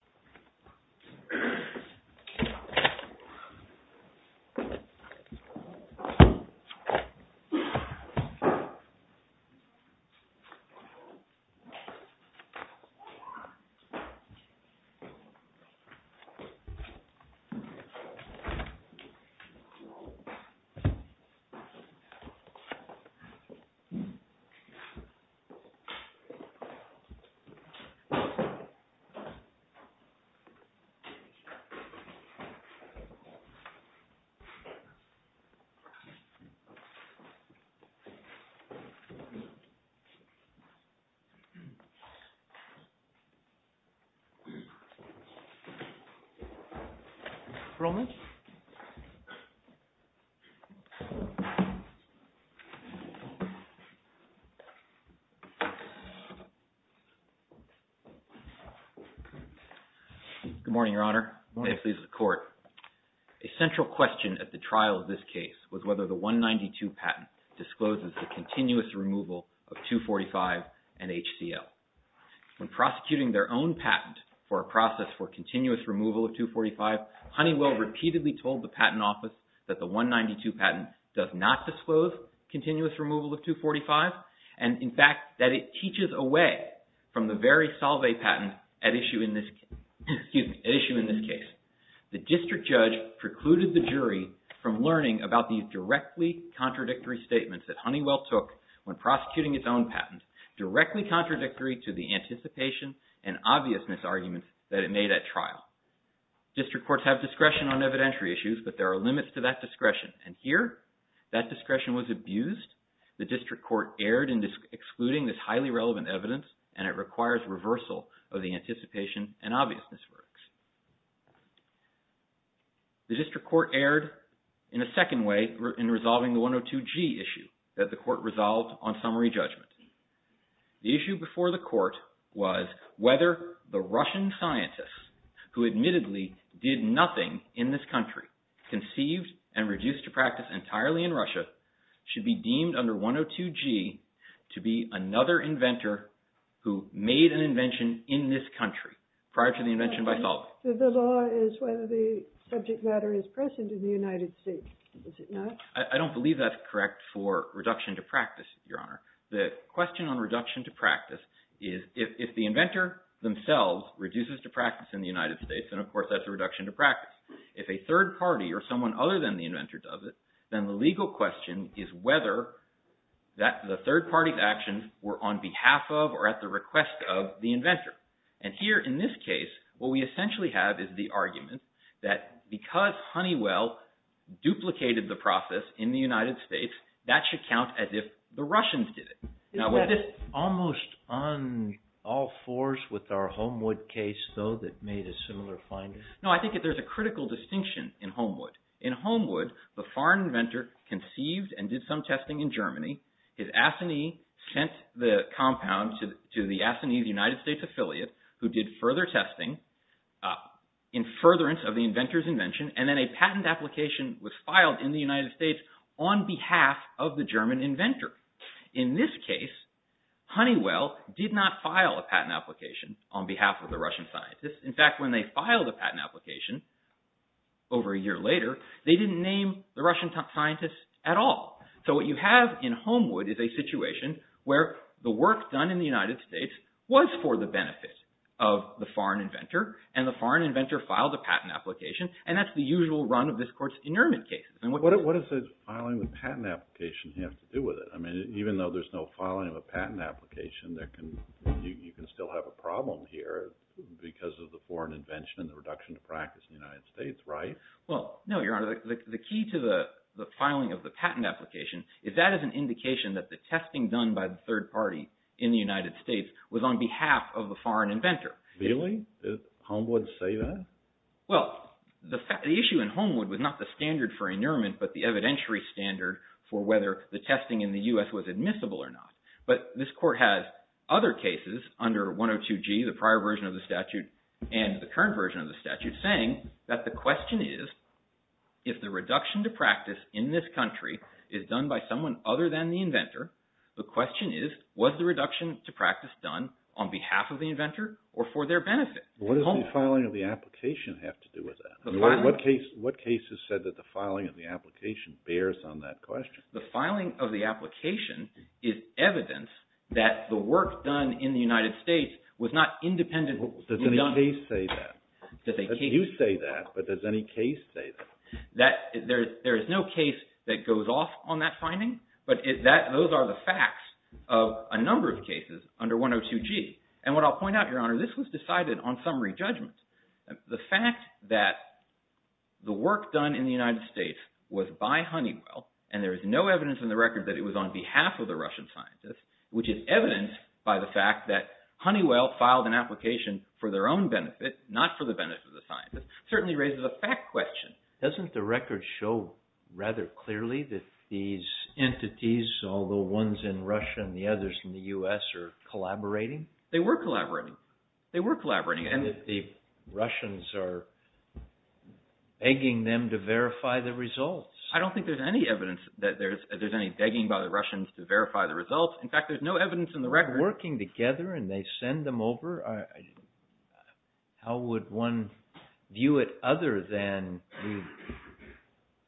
HONEYWELL, S.A. HONEYWELL, S.A. Good morning, Your Honor. A central question at the trial of this case was whether the 192 patent discloses the continuous removal of 245 and HCL. When prosecuting their own patent for a process for continuous removal of 245, Honeywell repeatedly told the Patent Office that the 192 patent does not disclose continuous removal of 245 and, in fact, that it teaches away from the very Solvay patent at issue in this case. The district judge precluded the jury from learning about these directly contradictory statements that Honeywell took when prosecuting its own patent, directly contradictory to the anticipation and obviousness arguments that it made at trial. District courts have discretion on evidentiary issues, but there are limits to that discretion, and here that discretion was abused. The district court erred in excluding this highly relevant evidence, and it requires reversal of the anticipation and obviousness verdicts. The district court erred in a second way in resolving the 102G issue that the court resolved on summary judgment. The issue before the court was whether the Russian scientists, who admittedly did nothing in this country, conceived and reduced to practice entirely in Russia, should be deemed under 102G to be another inventor who made an invention in this country prior to the invention by Solvay. The law is whether the subject matter is present in the United States. Is it not? I don't believe that's correct for reduction to practice, Your Honor. The question on reduction to practice is if the inventor themselves reduces to practice in the United States, and of course, that's a reduction to practice. If a third party or someone other than the inventor does it, then the legal question is whether the third party's actions were on behalf of or at the request of the inventor. And here in this case, what we essentially have is the argument that because Honeywell duplicated the process in the United States, that should count as if the Russians did it. Is that almost on all fours with our Homewood case, though, that made a similar finding? No, I think that there's a critical distinction in Homewood. In Homewood, the foreign inventor conceived and did some testing in Germany. His assignee sent the compound to the assignee's United States affiliate, who did further testing in furtherance of the inventor's invention, and then a patent application was filed in the United States on behalf of the German inventor. In this case, Honeywell did not file a patent application on behalf of the Russian scientists. In fact, when they filed a patent application over a year later, they didn't name the Russian scientists at all. So what you have in Homewood is a situation where the work done in the United States was for the benefit of the foreign inventor, and the foreign inventor filed a patent application, and that's the usual run of this court's inermit cases. What does filing the patent application have to do with it? I mean, even though there's no filing of a patent application, you can still have a problem here because of the foreign invention and the reduction of practice in the United States, right? Well, no, Your Honor. The key to the filing of the patent application is that is an indication that the testing done by the third party in the United States was on behalf of the foreign inventor. Really? Did Homewood say that? Well, the issue in Homewood was not the standard for inermit, but the evidentiary standard for whether the testing in the U.S. was admissible or not. But this court has other cases under 102G, the prior version of the statute, and the current version of the statute, saying that the question is if the reduction to practice in this country is done by someone other than the inventor, the question is was the reduction to practice done on behalf of the inventor or for their benefit? What does the filing of the application have to do with that? The filing? What cases said that the filing of the application bears on that question? The filing of the application is evidence that the work done in the United States was not independently done. Does any case say that? Does any case say that? You say that, but does any case say that? There is no case that goes off on that finding, but those are the facts of a number of cases under 102G. And what I'll point out, Your Honor, this was decided on summary judgment. The fact that the work done in the United States was by Honeywell, and there is no evidence in the record that it was on behalf of the Russian scientist, which is evident by the fact that Honeywell filed an application for their own benefit, not for the benefit of the scientist, certainly raises a fact question. Doesn't the record show rather clearly that these entities, although one's in Russia and the other's in the U.S., are collaborating? They were collaborating. They were collaborating. And the Russians are begging them to verify the results. I don't think there's any evidence that there's any begging by the Russians to verify the results. In fact, there's no evidence in the record. They're working together and they send them over. How would one view it other than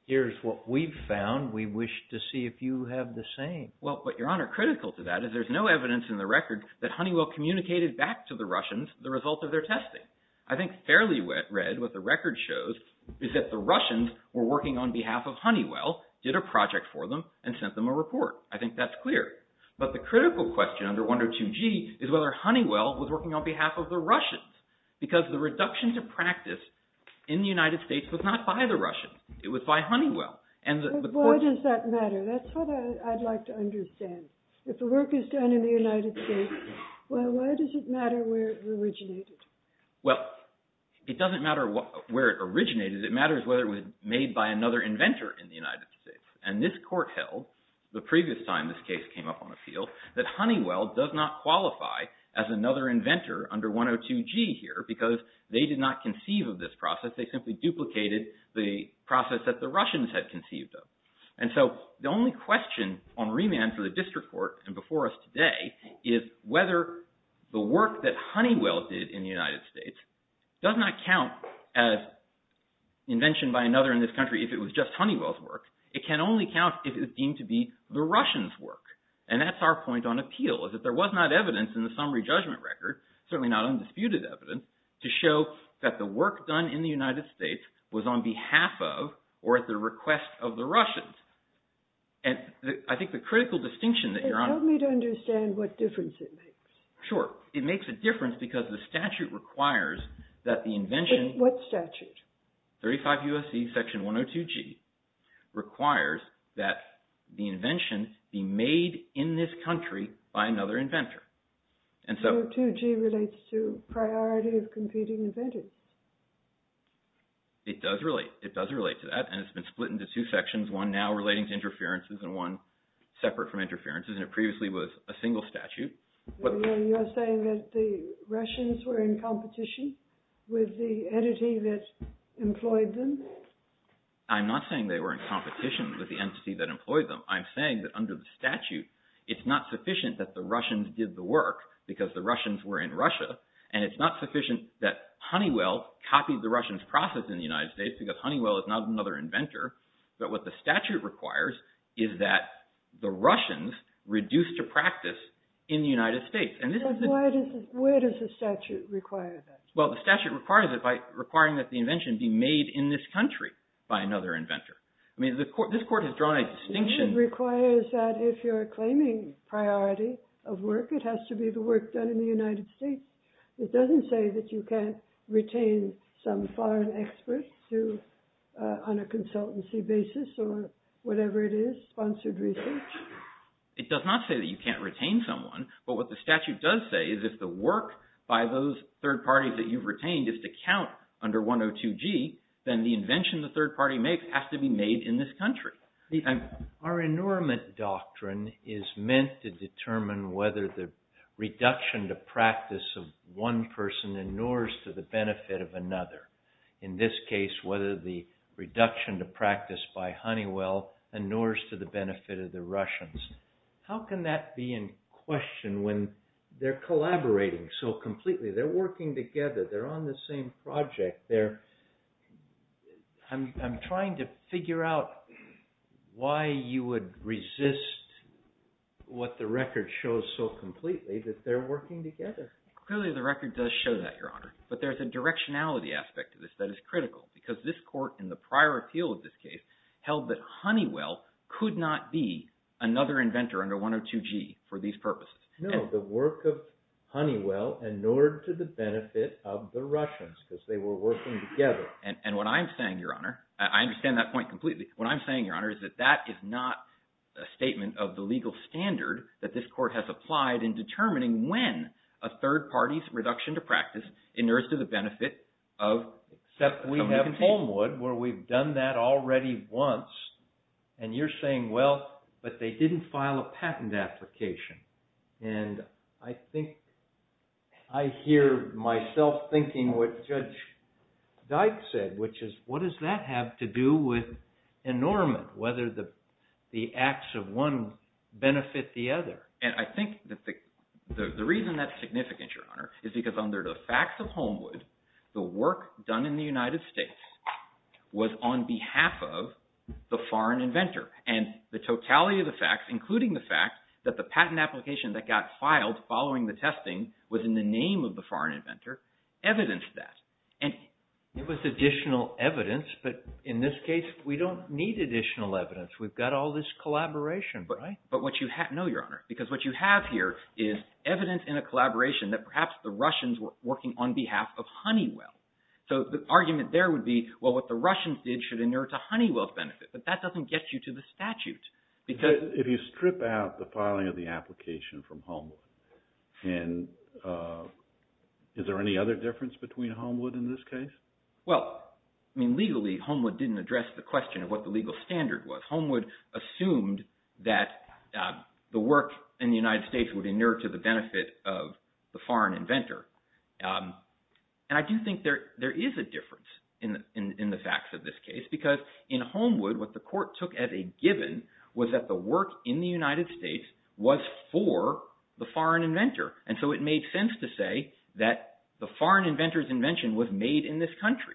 here's what we've found. We wish to see if you have the same. Well, but Your Honor, critical to that is there's no evidence in the record that Honeywell communicated back to the Russians the result of their testing. I think fairly read what the record shows is that the Russians were working on behalf of Honeywell, did a project for them, and sent them a report. I think that's clear. But the critical question under 102G is whether Honeywell was working on behalf of the Russians because the reduction to practice in the United States was not by the Russians. It was by Honeywell. Why does that matter? That's what I'd like to understand. If the work is done in the United States, well, why does it matter where it originated? Well, it doesn't matter where it originated. It matters whether it was made by another inventor in the United States. And this court held the previous time this case came up on appeal that Honeywell does not qualify as another inventor under 102G here because they did not conceive of this process. They simply duplicated the process that the Russians had conceived of. And so the only question on remand for the district court and before us today is whether the work that Honeywell did in the United States does not count as invention by another in this country if it was just Honeywell's work. It can only count if it was deemed to be the Russians' work. And that's our point on appeal is that there was not evidence in the summary judgment record, certainly not undisputed evidence, to show that the work done in the United States was on behalf of or at the request of the Russians. And I think the critical distinction that you're on... Help me to understand what difference it makes. Sure. It makes a difference because the statute requires that the invention... What statute? 35 U.S.C. Section 102G requires that the invention be made in this country by another inventor. 102G relates to priority of competing inventors. It does relate. It does relate to that. And it's been split into two sections, one now relating to interferences and one separate from interferences, and it previously was a single statute. You're saying that the Russians were in competition with the entity that employed them? I'm not saying they were in competition with the entity that employed them. I'm saying that under the statute, it's not sufficient that the Russians did the work because the Russians were in Russia, and it's not sufficient that Honeywell copied the Russians' process in the United States because Honeywell is not another inventor. But what the statute requires is that the Russians reduce to practice in the United States. And this is... Where does the statute require that? Well, the statute requires it by requiring that the invention be made in this country by another inventor. I mean, this court has drawn a distinction... It requires that if you're claiming priority of work, it has to be the work done in the United States. It doesn't say that you can't retain some foreign expert on a consultancy basis or whatever it is, sponsored research. It does not say that you can't retain someone, but what the statute does say is if the work by those third parties that you've retained is to count under 102G, then the invention the third party makes has to be made in this country. Our inormant doctrine is meant to determine whether the reduction to practice of one person inures to the benefit of another. In this case, whether the reduction to practice by Honeywell inures to the benefit of the Russians. How can that be in question when they're collaborating so completely? They're working together. They're on the same project. They're... I'm trying to figure out why you would resist what the record shows so completely that they're working together. Clearly the record does show that, Your Honor, but there's a directionality aspect to this that is critical because this court in the prior appeal of this case held that Honeywell could not be another inventor under 102G for these purposes. No, the work of Honeywell inured to the benefit of the Russians because they were working together. And what I'm saying, Your Honor, I understand that point completely. What I'm saying, Your Honor, is that that is not a statement of the legal standard that this court has applied in determining when a third party's reduction to practice inures to the benefit of... Except we have Homewood where we've done that already once. And you're saying, well, but they didn't file a patent application. And I think I hear myself thinking what Judge Dyke said, which is, what does that have to do with enormous, whether the acts of one benefit the other? And I think that the reason that's significant, Your Honor, is because under the facts of Homewood, the work done in the United States was on behalf of the foreign inventor. And the totality of the facts, including the fact that the patent application that got filed following the testing was in the name of the foreign inventor, evidenced that. And it was additional evidence, but in this case, we don't need additional evidence. We've got all this collaboration, right? But what you have... No, Your Honor, because what you have here is evidence in a collaboration that perhaps the Russians were working on behalf of Honeywell. So the argument there would be, well, what the Russians did should inure to Honeywell's benefit. But that doesn't get you to the statute. If you strip out the filing of the application from Homewood, is there any other difference between Homewood in this case? Well, I mean, legally, Homewood didn't address the question of what the legal standard was. Homewood assumed that the work in the United States would inure to the benefit of the foreign inventor. And I do think there is a difference in the facts of this case, because in Homewood, what the court took as a given was that the work in the United States was for the foreign inventor. And so it made sense to say that the foreign inventor's invention was made in this country.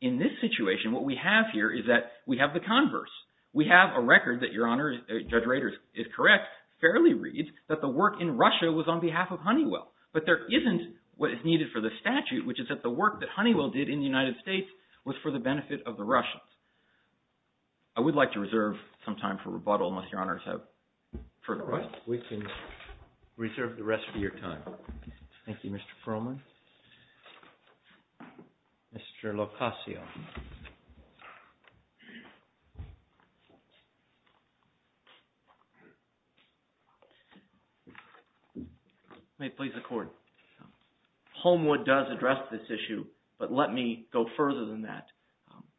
In this situation, what we have here is that we have the converse. We have a record that, Your Honor, Judge Rader is correct, fairly reads that the work in Russia was on behalf of Honeywell. But there isn't what is needed for the statute, which is that the work that Honeywell did in the United States was for the benefit of the Russians. I would like to reserve some time for rebuttal, unless Your Honors have further questions. We can reserve the rest of your time. Thank you, Mr. Perlman. Mr. Locascio. May it please the Court. Homewood does address this issue, but let me go further than that,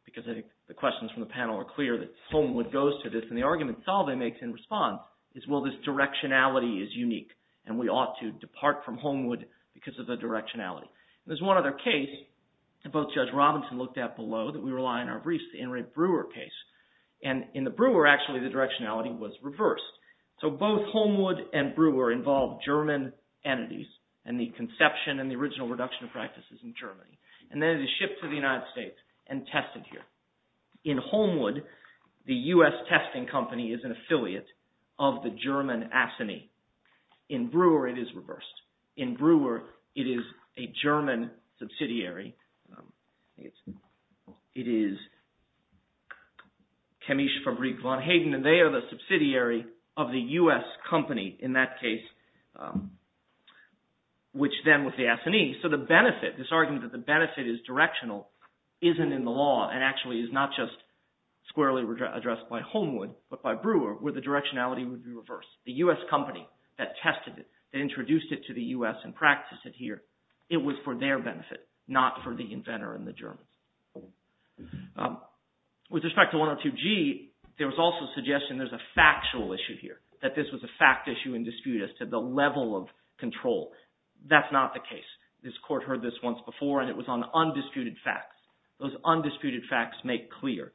because I think the questions from the panel are clear that Homewood goes to this, and the argument Salve makes in response is, well, this directionality is unique, and we ought to depart from Homewood because of the directionality. There's one other case that both Judge Robinson looked at below that we rely on our briefs, the Inret Brewer case. And in the Brewer, actually, the directionality was reversed. So both Homewood and Brewer involve German entities, and the conception and the original reduction of practices in Germany. And then it is shipped to the United States and tested here. In Homewood, the U.S. testing company is an affiliate of the German Assany. In Brewer, it is reversed. In Brewer, it is a German subsidiary. It is Chemische Fabrique von Hayden, and they are the subsidiary of the U.S. company in that case, which then was the Assany. So the benefit, this argument that the benefit is directional, isn't in the law and actually is not just squarely addressed by Homewood, but by Brewer, where the directionality would be reversed. The U.S. company that tested it, that introduced it to the U.S. and practiced it here, it was for their benefit, not for the inventor and the Germans. With respect to 102G, there was also suggestion there's a factual issue here, that this was a fact issue in dispute as to the level of control. That's not the case. This court heard this once before, and it was on undisputed facts. Those undisputed facts make clear.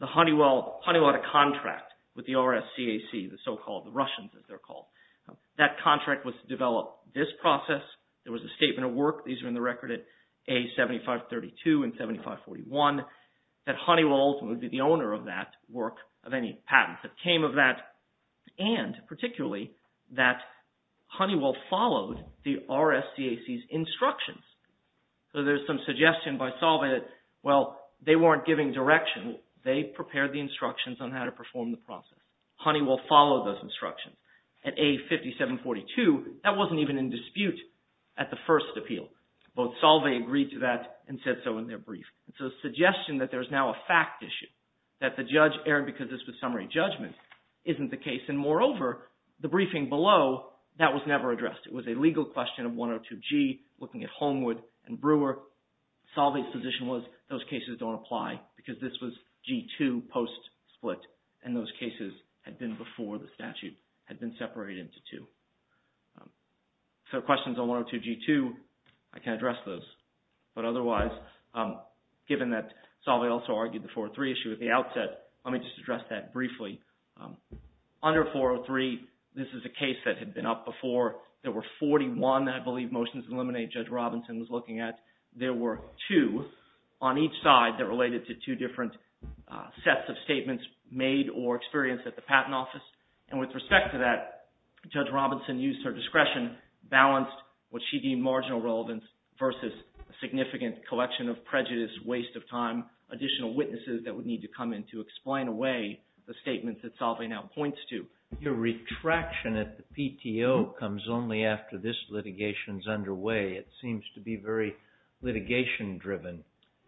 The Honeywell to contract with the RSCAC, the so-called Russians, as they're called, that contract was to develop this process. There was a statement of work. These are in the record at A7532 and 7541, that Honeywell ultimately would be the owner of that work, of any patent that came of that, and particularly, that Honeywell followed the RSCAC's instructions. So there's some suggestion by Salva that, well, they weren't giving direction. They prepared the instructions on how to perform the process. Honeywell followed those instructions. At A5742, that wasn't even in dispute at the first appeal. Both Salva agreed to that and said so in their brief. So the suggestion that there's now a fact issue, that the judge erred because this was summary judgment, isn't the case. And moreover, the briefing below, that was never addressed. It was a legal question of 102G, looking at Holmwood and Brewer. Salva's position was those cases don't apply because this was G2 post-split, and those cases had been before the statute had been separated into two. So questions on 102G2, I can address those. But otherwise, given that Salva also argued the 403 issue at the outset, let me just address that briefly. Under 403, this is a case that had been up before. There were 41, I believe, motions to eliminate Judge Robinson was looking at. There were two on each side that related to two different sets of statements made or experienced at the Patent Office. And with respect to that, Judge Robinson used her discretion, balanced what she deemed marginal relevance versus a significant collection of prejudice, waste of time, additional witnesses that would need to come in to explain away the statements that Salva now points to. Your retraction at the PTO comes only after this litigation is underway. It seems to be very litigation-driven.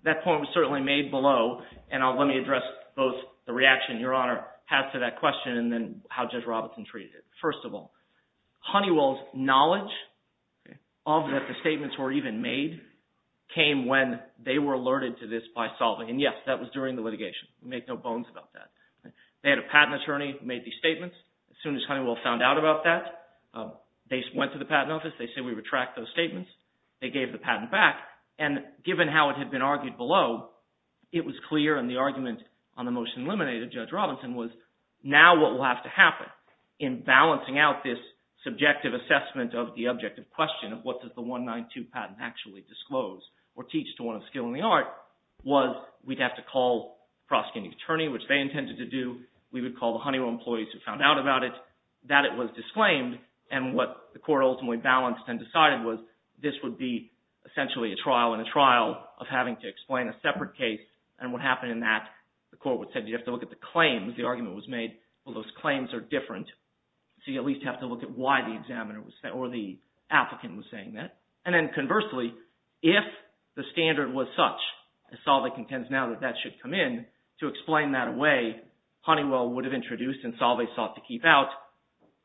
That point was certainly made below, and let me address both the reaction Your Honor had to that question and then how Judge Robinson treated it. First of all, Honeywell's knowledge of that the statements were even made came when they were alerted to this by Salva. And, yes, that was during the litigation. We make no bones about that. They had a patent attorney who made these statements. As soon as Honeywell found out about that, they went to the Patent Office. They said, We retract those statements. They gave the patent back. And given how it had been argued below, it was clear, and the argument on the motion eliminated, Judge Robinson, was now what will have to happen in balancing out this subjective assessment of the objective question of what does the 192 patent actually disclose or teach to one of skill and the art, was we'd have to call the prosecuting attorney, which they intended to do. We would call the Honeywell employees who found out about it, that it was disclaimed, and what the court ultimately balanced and decided was this would be essentially a trial and a trial of having to explain a separate case. And what happened in that, the court would say, You have to look at the claims. The argument was made, Well, those claims are different. So you at least have to look at why the examiner or the applicant was saying that. And then conversely, if the standard was such, as Salva contends now that that should come in, to explain that away, Honeywell would have introduced, and Salva sought to keep out,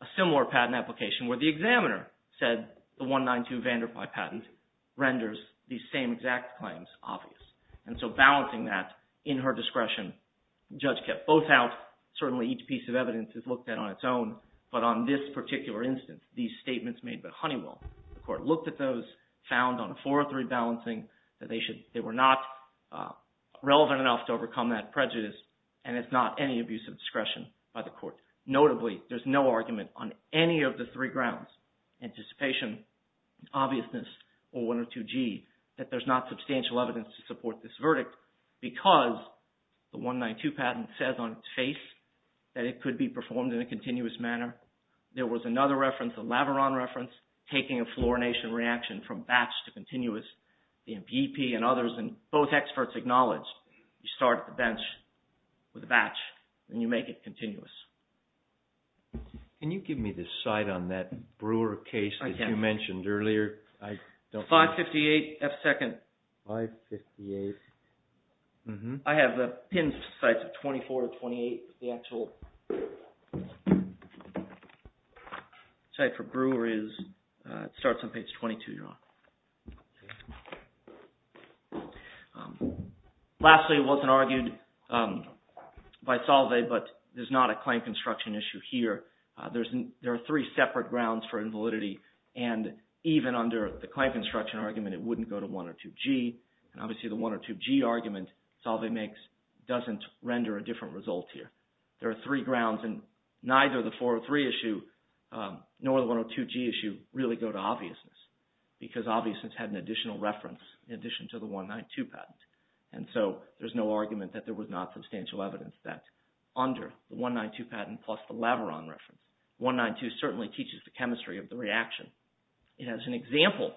a similar patent application where the examiner said the 192 Vanderpuy patent renders these same exact claims obvious. And so balancing that in her discretion, the judge kept both out. Certainly, each piece of evidence is looked at on its own, but on this particular instance, these statements made by Honeywell, the court looked at those, found on a 403 balancing that they were not relevant enough to overcome that prejudice, and it's not any abuse of discretion by the court. Notably, there's no argument on any of the three grounds, anticipation, obviousness, or 102G, that there's not substantial evidence to support this verdict because the 192 patent says on its face that it could be performed in a continuous manner. There was another reference, a Laveron reference, taking a fluorination reaction from batch to continuous. The MPP and others, and both experts acknowledged, you start at the bench with a batch, and you make it continuous. Can you give me the site on that Brewer case that you mentioned earlier? 558 F2nd. 558. I have the pinned sites of 24 and 28. The actual site for Brewer is, it starts on page 22, John. Lastly, it wasn't argued by Salve, but there's not a claim construction issue here. There are three separate grounds for invalidity, and even under the claim construction argument, it wouldn't go to 102G. Obviously, the 102G argument Salve makes doesn't render a different result here. There are three grounds, and neither the 403 issue nor the 102G issue really go to obviousness because obviousness had an additional reference in addition to the 192 patent. And so there's no argument that there was not substantial evidence that, under the 192 patent plus the Laveron reference, 192 certainly teaches the chemistry of the reaction. It has an example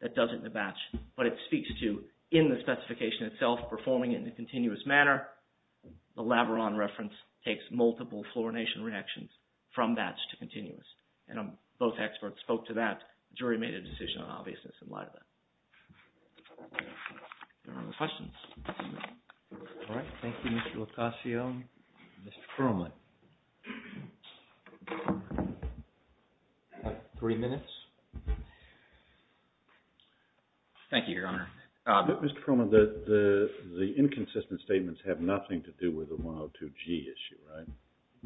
that does it in a batch, but it speaks to, in the specification itself, performing it in a continuous manner. The Laveron reference takes multiple fluorination reactions from batch to continuous. And both experts spoke to that. The jury made a decision on obviousness in light of that. Any other questions? All right. Thank you, Mr. Lucasio. Mr. Perlman. You have three minutes. Thank you, Your Honor. Mr. Perlman, the inconsistent statements have nothing to do with the 102G issue, right?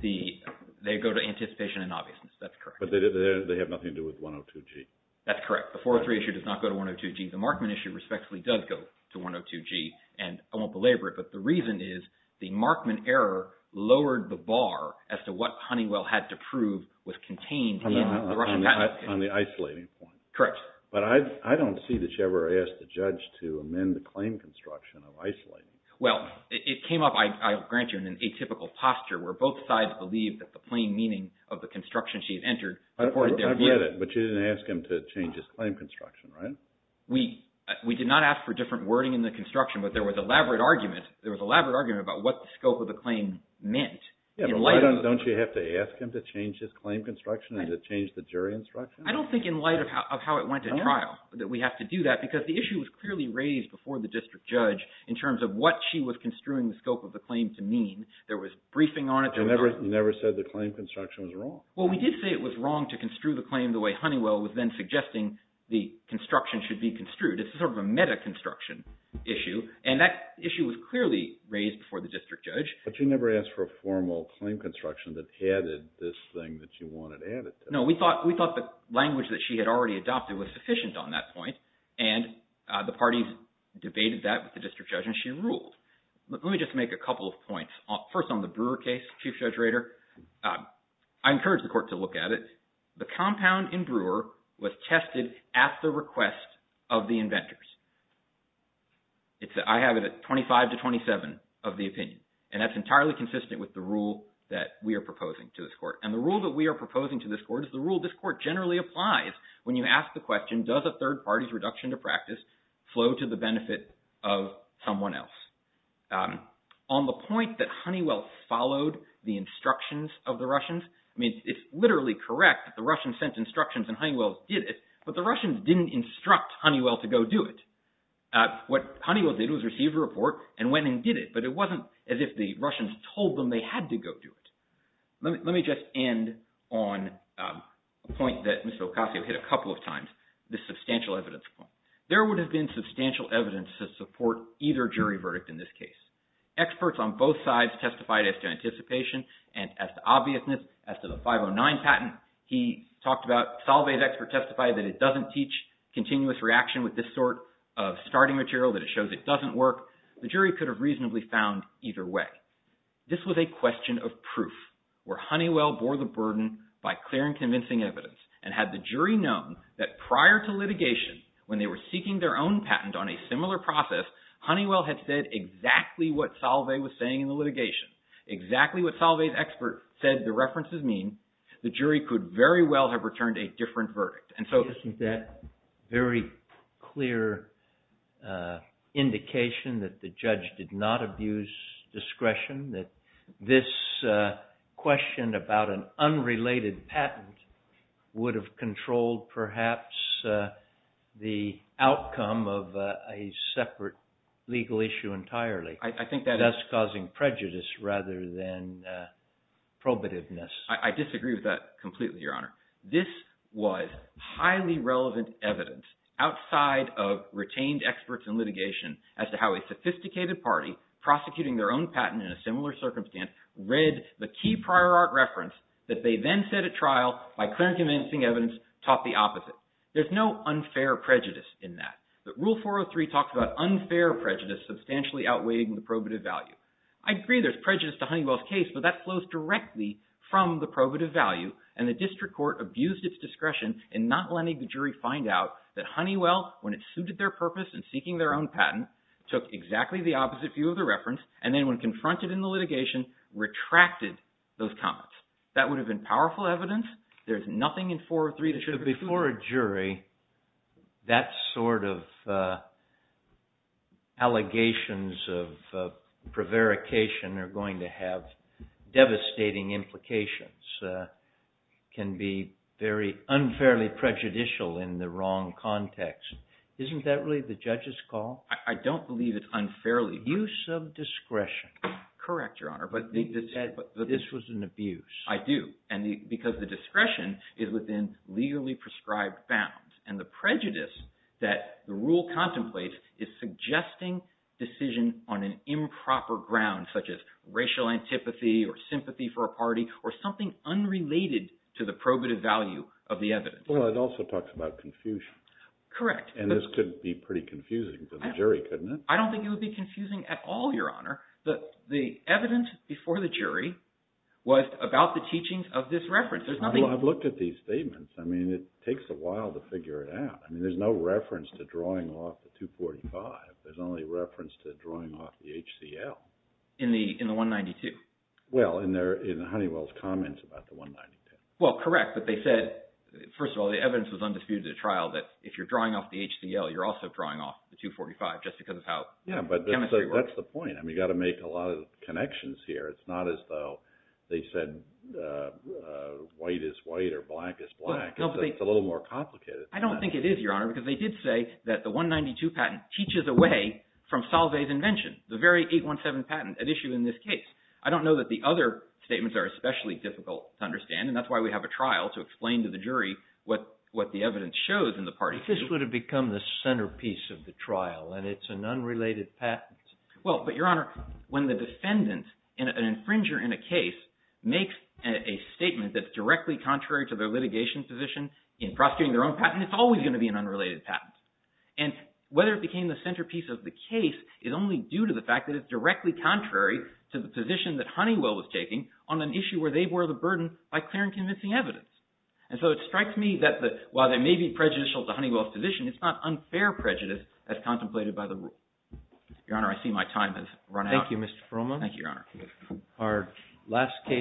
They go to anticipation and obviousness. That's correct. But they have nothing to do with 102G. That's correct. The 403 issue does not go to 102G. The Markman issue respectfully does go to 102G, and I won't belabor it, but the reason is the Markman error lowered the bar as to what Honeywell had to prove was contained in the Russian patent. On the isolating point. Correct. But I don't see that you ever asked the judge to amend the claim construction of isolating. Well, it came up, I'll grant you, in an atypical posture, where both sides believed that the plain meaning of the construction she had entered was their view. I've read it, but you didn't ask him to change his claim construction, right? We did not ask for different wording in the construction, but there was elaborate argument. There was elaborate argument about what the scope of the claim meant. Yeah, but why don't you have to ask him to change his claim construction and to change the jury instruction? I don't think in light of how it went to trial that we have to do that, because the issue was clearly raised before the district judge in terms of what she was construing the scope of the claim to mean. There was briefing on it. You never said the claim construction was wrong. Well, we did say it was wrong to construe the claim the way Honeywell was then suggesting the construction should be construed. It's sort of a meta-construction issue, and that issue was clearly raised before the district judge. But you never asked for a formal claim construction that added this thing that you wanted added to it. No, we thought the language that she had already adopted was sufficient on that point, and the parties debated that with the district judge, and she ruled. Let me just make a couple of points. First on the Brewer case, Chief Judge Rader, I encourage the court to look at it. The compound in Brewer was tested at the request of the inventors. I have it at 25 to 27 of the opinion, and that's entirely consistent with the rule that we are proposing to this court. And the rule that we are proposing to this court is the rule this court generally applies when you ask the question, does a third party's reduction to practice flow to the benefit of someone else? On the point that Honeywell followed the instructions of the Russians, I mean, it's literally correct that the Russians sent instructions and Honeywell did it, but the Russians didn't instruct Honeywell to go do it. What Honeywell did was receive a report and went and did it, but it wasn't as if the Russians told them they had to go do it. Let me just end on a point that Mr. Ocasio hit a couple of times, the substantial evidence point. There would have been substantial evidence to support either jury verdict in this case. Experts on both sides testified as to anticipation and as to obviousness as to the 509 patent. He talked about Solvay's expert testified that it doesn't teach continuous reaction with this sort of starting material, that it shows it doesn't work. The jury could have reasonably found either way. This was a question of proof where Honeywell bore the burden by clear and convincing evidence and had the jury known that prior to litigation when they were seeking their own patent on a similar process, Honeywell had said exactly what Solvay was saying in the litigation, exactly what Solvay's expert said the references mean. The jury could very well have returned a different verdict. Isn't that a very clear indication that the judge did not abuse discretion, that this question about an unrelated patent would have controlled perhaps the outcome of a separate legal issue entirely, thus causing prejudice rather than probativeness? I disagree with that completely, Your Honor. This was highly relevant evidence outside of retained experts in litigation as to how a sophisticated party prosecuting their own patent in a similar circumstance read the key prior art reference that they then set at trial by clear and convincing evidence taught the opposite. There's no unfair prejudice in that. Rule 403 talks about unfair prejudice substantially outweighing the probative value. I agree there's prejudice to Honeywell's case, but that flows directly from the probative value and the district court abused its discretion in not letting the jury find out that Honeywell, when it suited their purpose in seeking their own patent, took exactly the opposite view of the reference and then when confronted in the litigation, retracted those comments. That would have been powerful evidence. There's nothing in 403 that should have been. Before a jury, that sort of allegations of prevarication are going to have devastating implications, can be very unfairly prejudicial in the wrong context. Isn't that really the judge's call? I don't believe it's unfairly prejudicial. Use of discretion. Correct, Your Honor. This was an abuse. I do, because the discretion is within legally prescribed bounds, and the prejudice that the rule contemplates is suggesting decision on an improper ground, such as racial antipathy or sympathy for a party or something unrelated to the probative value of the evidence. Well, it also talks about confusion. Correct. And this could be pretty confusing for the jury, couldn't it? I don't think it would be confusing at all, Your Honor. The evidence before the jury was about the teachings of this reference. I've looked at these statements. I mean, it takes a while to figure it out. I mean, there's no reference to drawing off the 245. There's only reference to drawing off the HCL. In the 192. Well, in Honeywell's comments about the 192. Well, correct, but they said, first of all, the evidence was undisputed at trial that if you're drawing off the HCL, you're also drawing off the 245 just because of how the chemistry works. Yeah, but that's the point. I mean, you've got to make a lot of connections here. It's not as though they said white is white or black is black. It's a little more complicated. I don't think it is, Your Honor, because they did say that the 192 patent teaches away from Salve's invention, the very 817 patent at issue in this case. I don't know that the other statements are especially difficult to understand, and that's why we have a trial to explain to the jury what the evidence shows in the parties. But this would have become the centerpiece of the trial, and it's an unrelated patent. Well, but, Your Honor, when the defendant, an infringer in a case, makes a statement that's directly contrary to their litigation position in prosecuting their own patent, it's always going to be an unrelated patent. And whether it became the centerpiece of the case is only due to the fact that it's directly contrary to the position that Honeywell was taking on an issue where they bore the burden by clearing convincing evidence. And so it strikes me that while there may be prejudicial to Honeywell's position, it's not unfair prejudice as contemplated by the rule. Your Honor, I see my time has run out. Thank you, Mr. Perlman. Thank you, Your Honor. Our last case.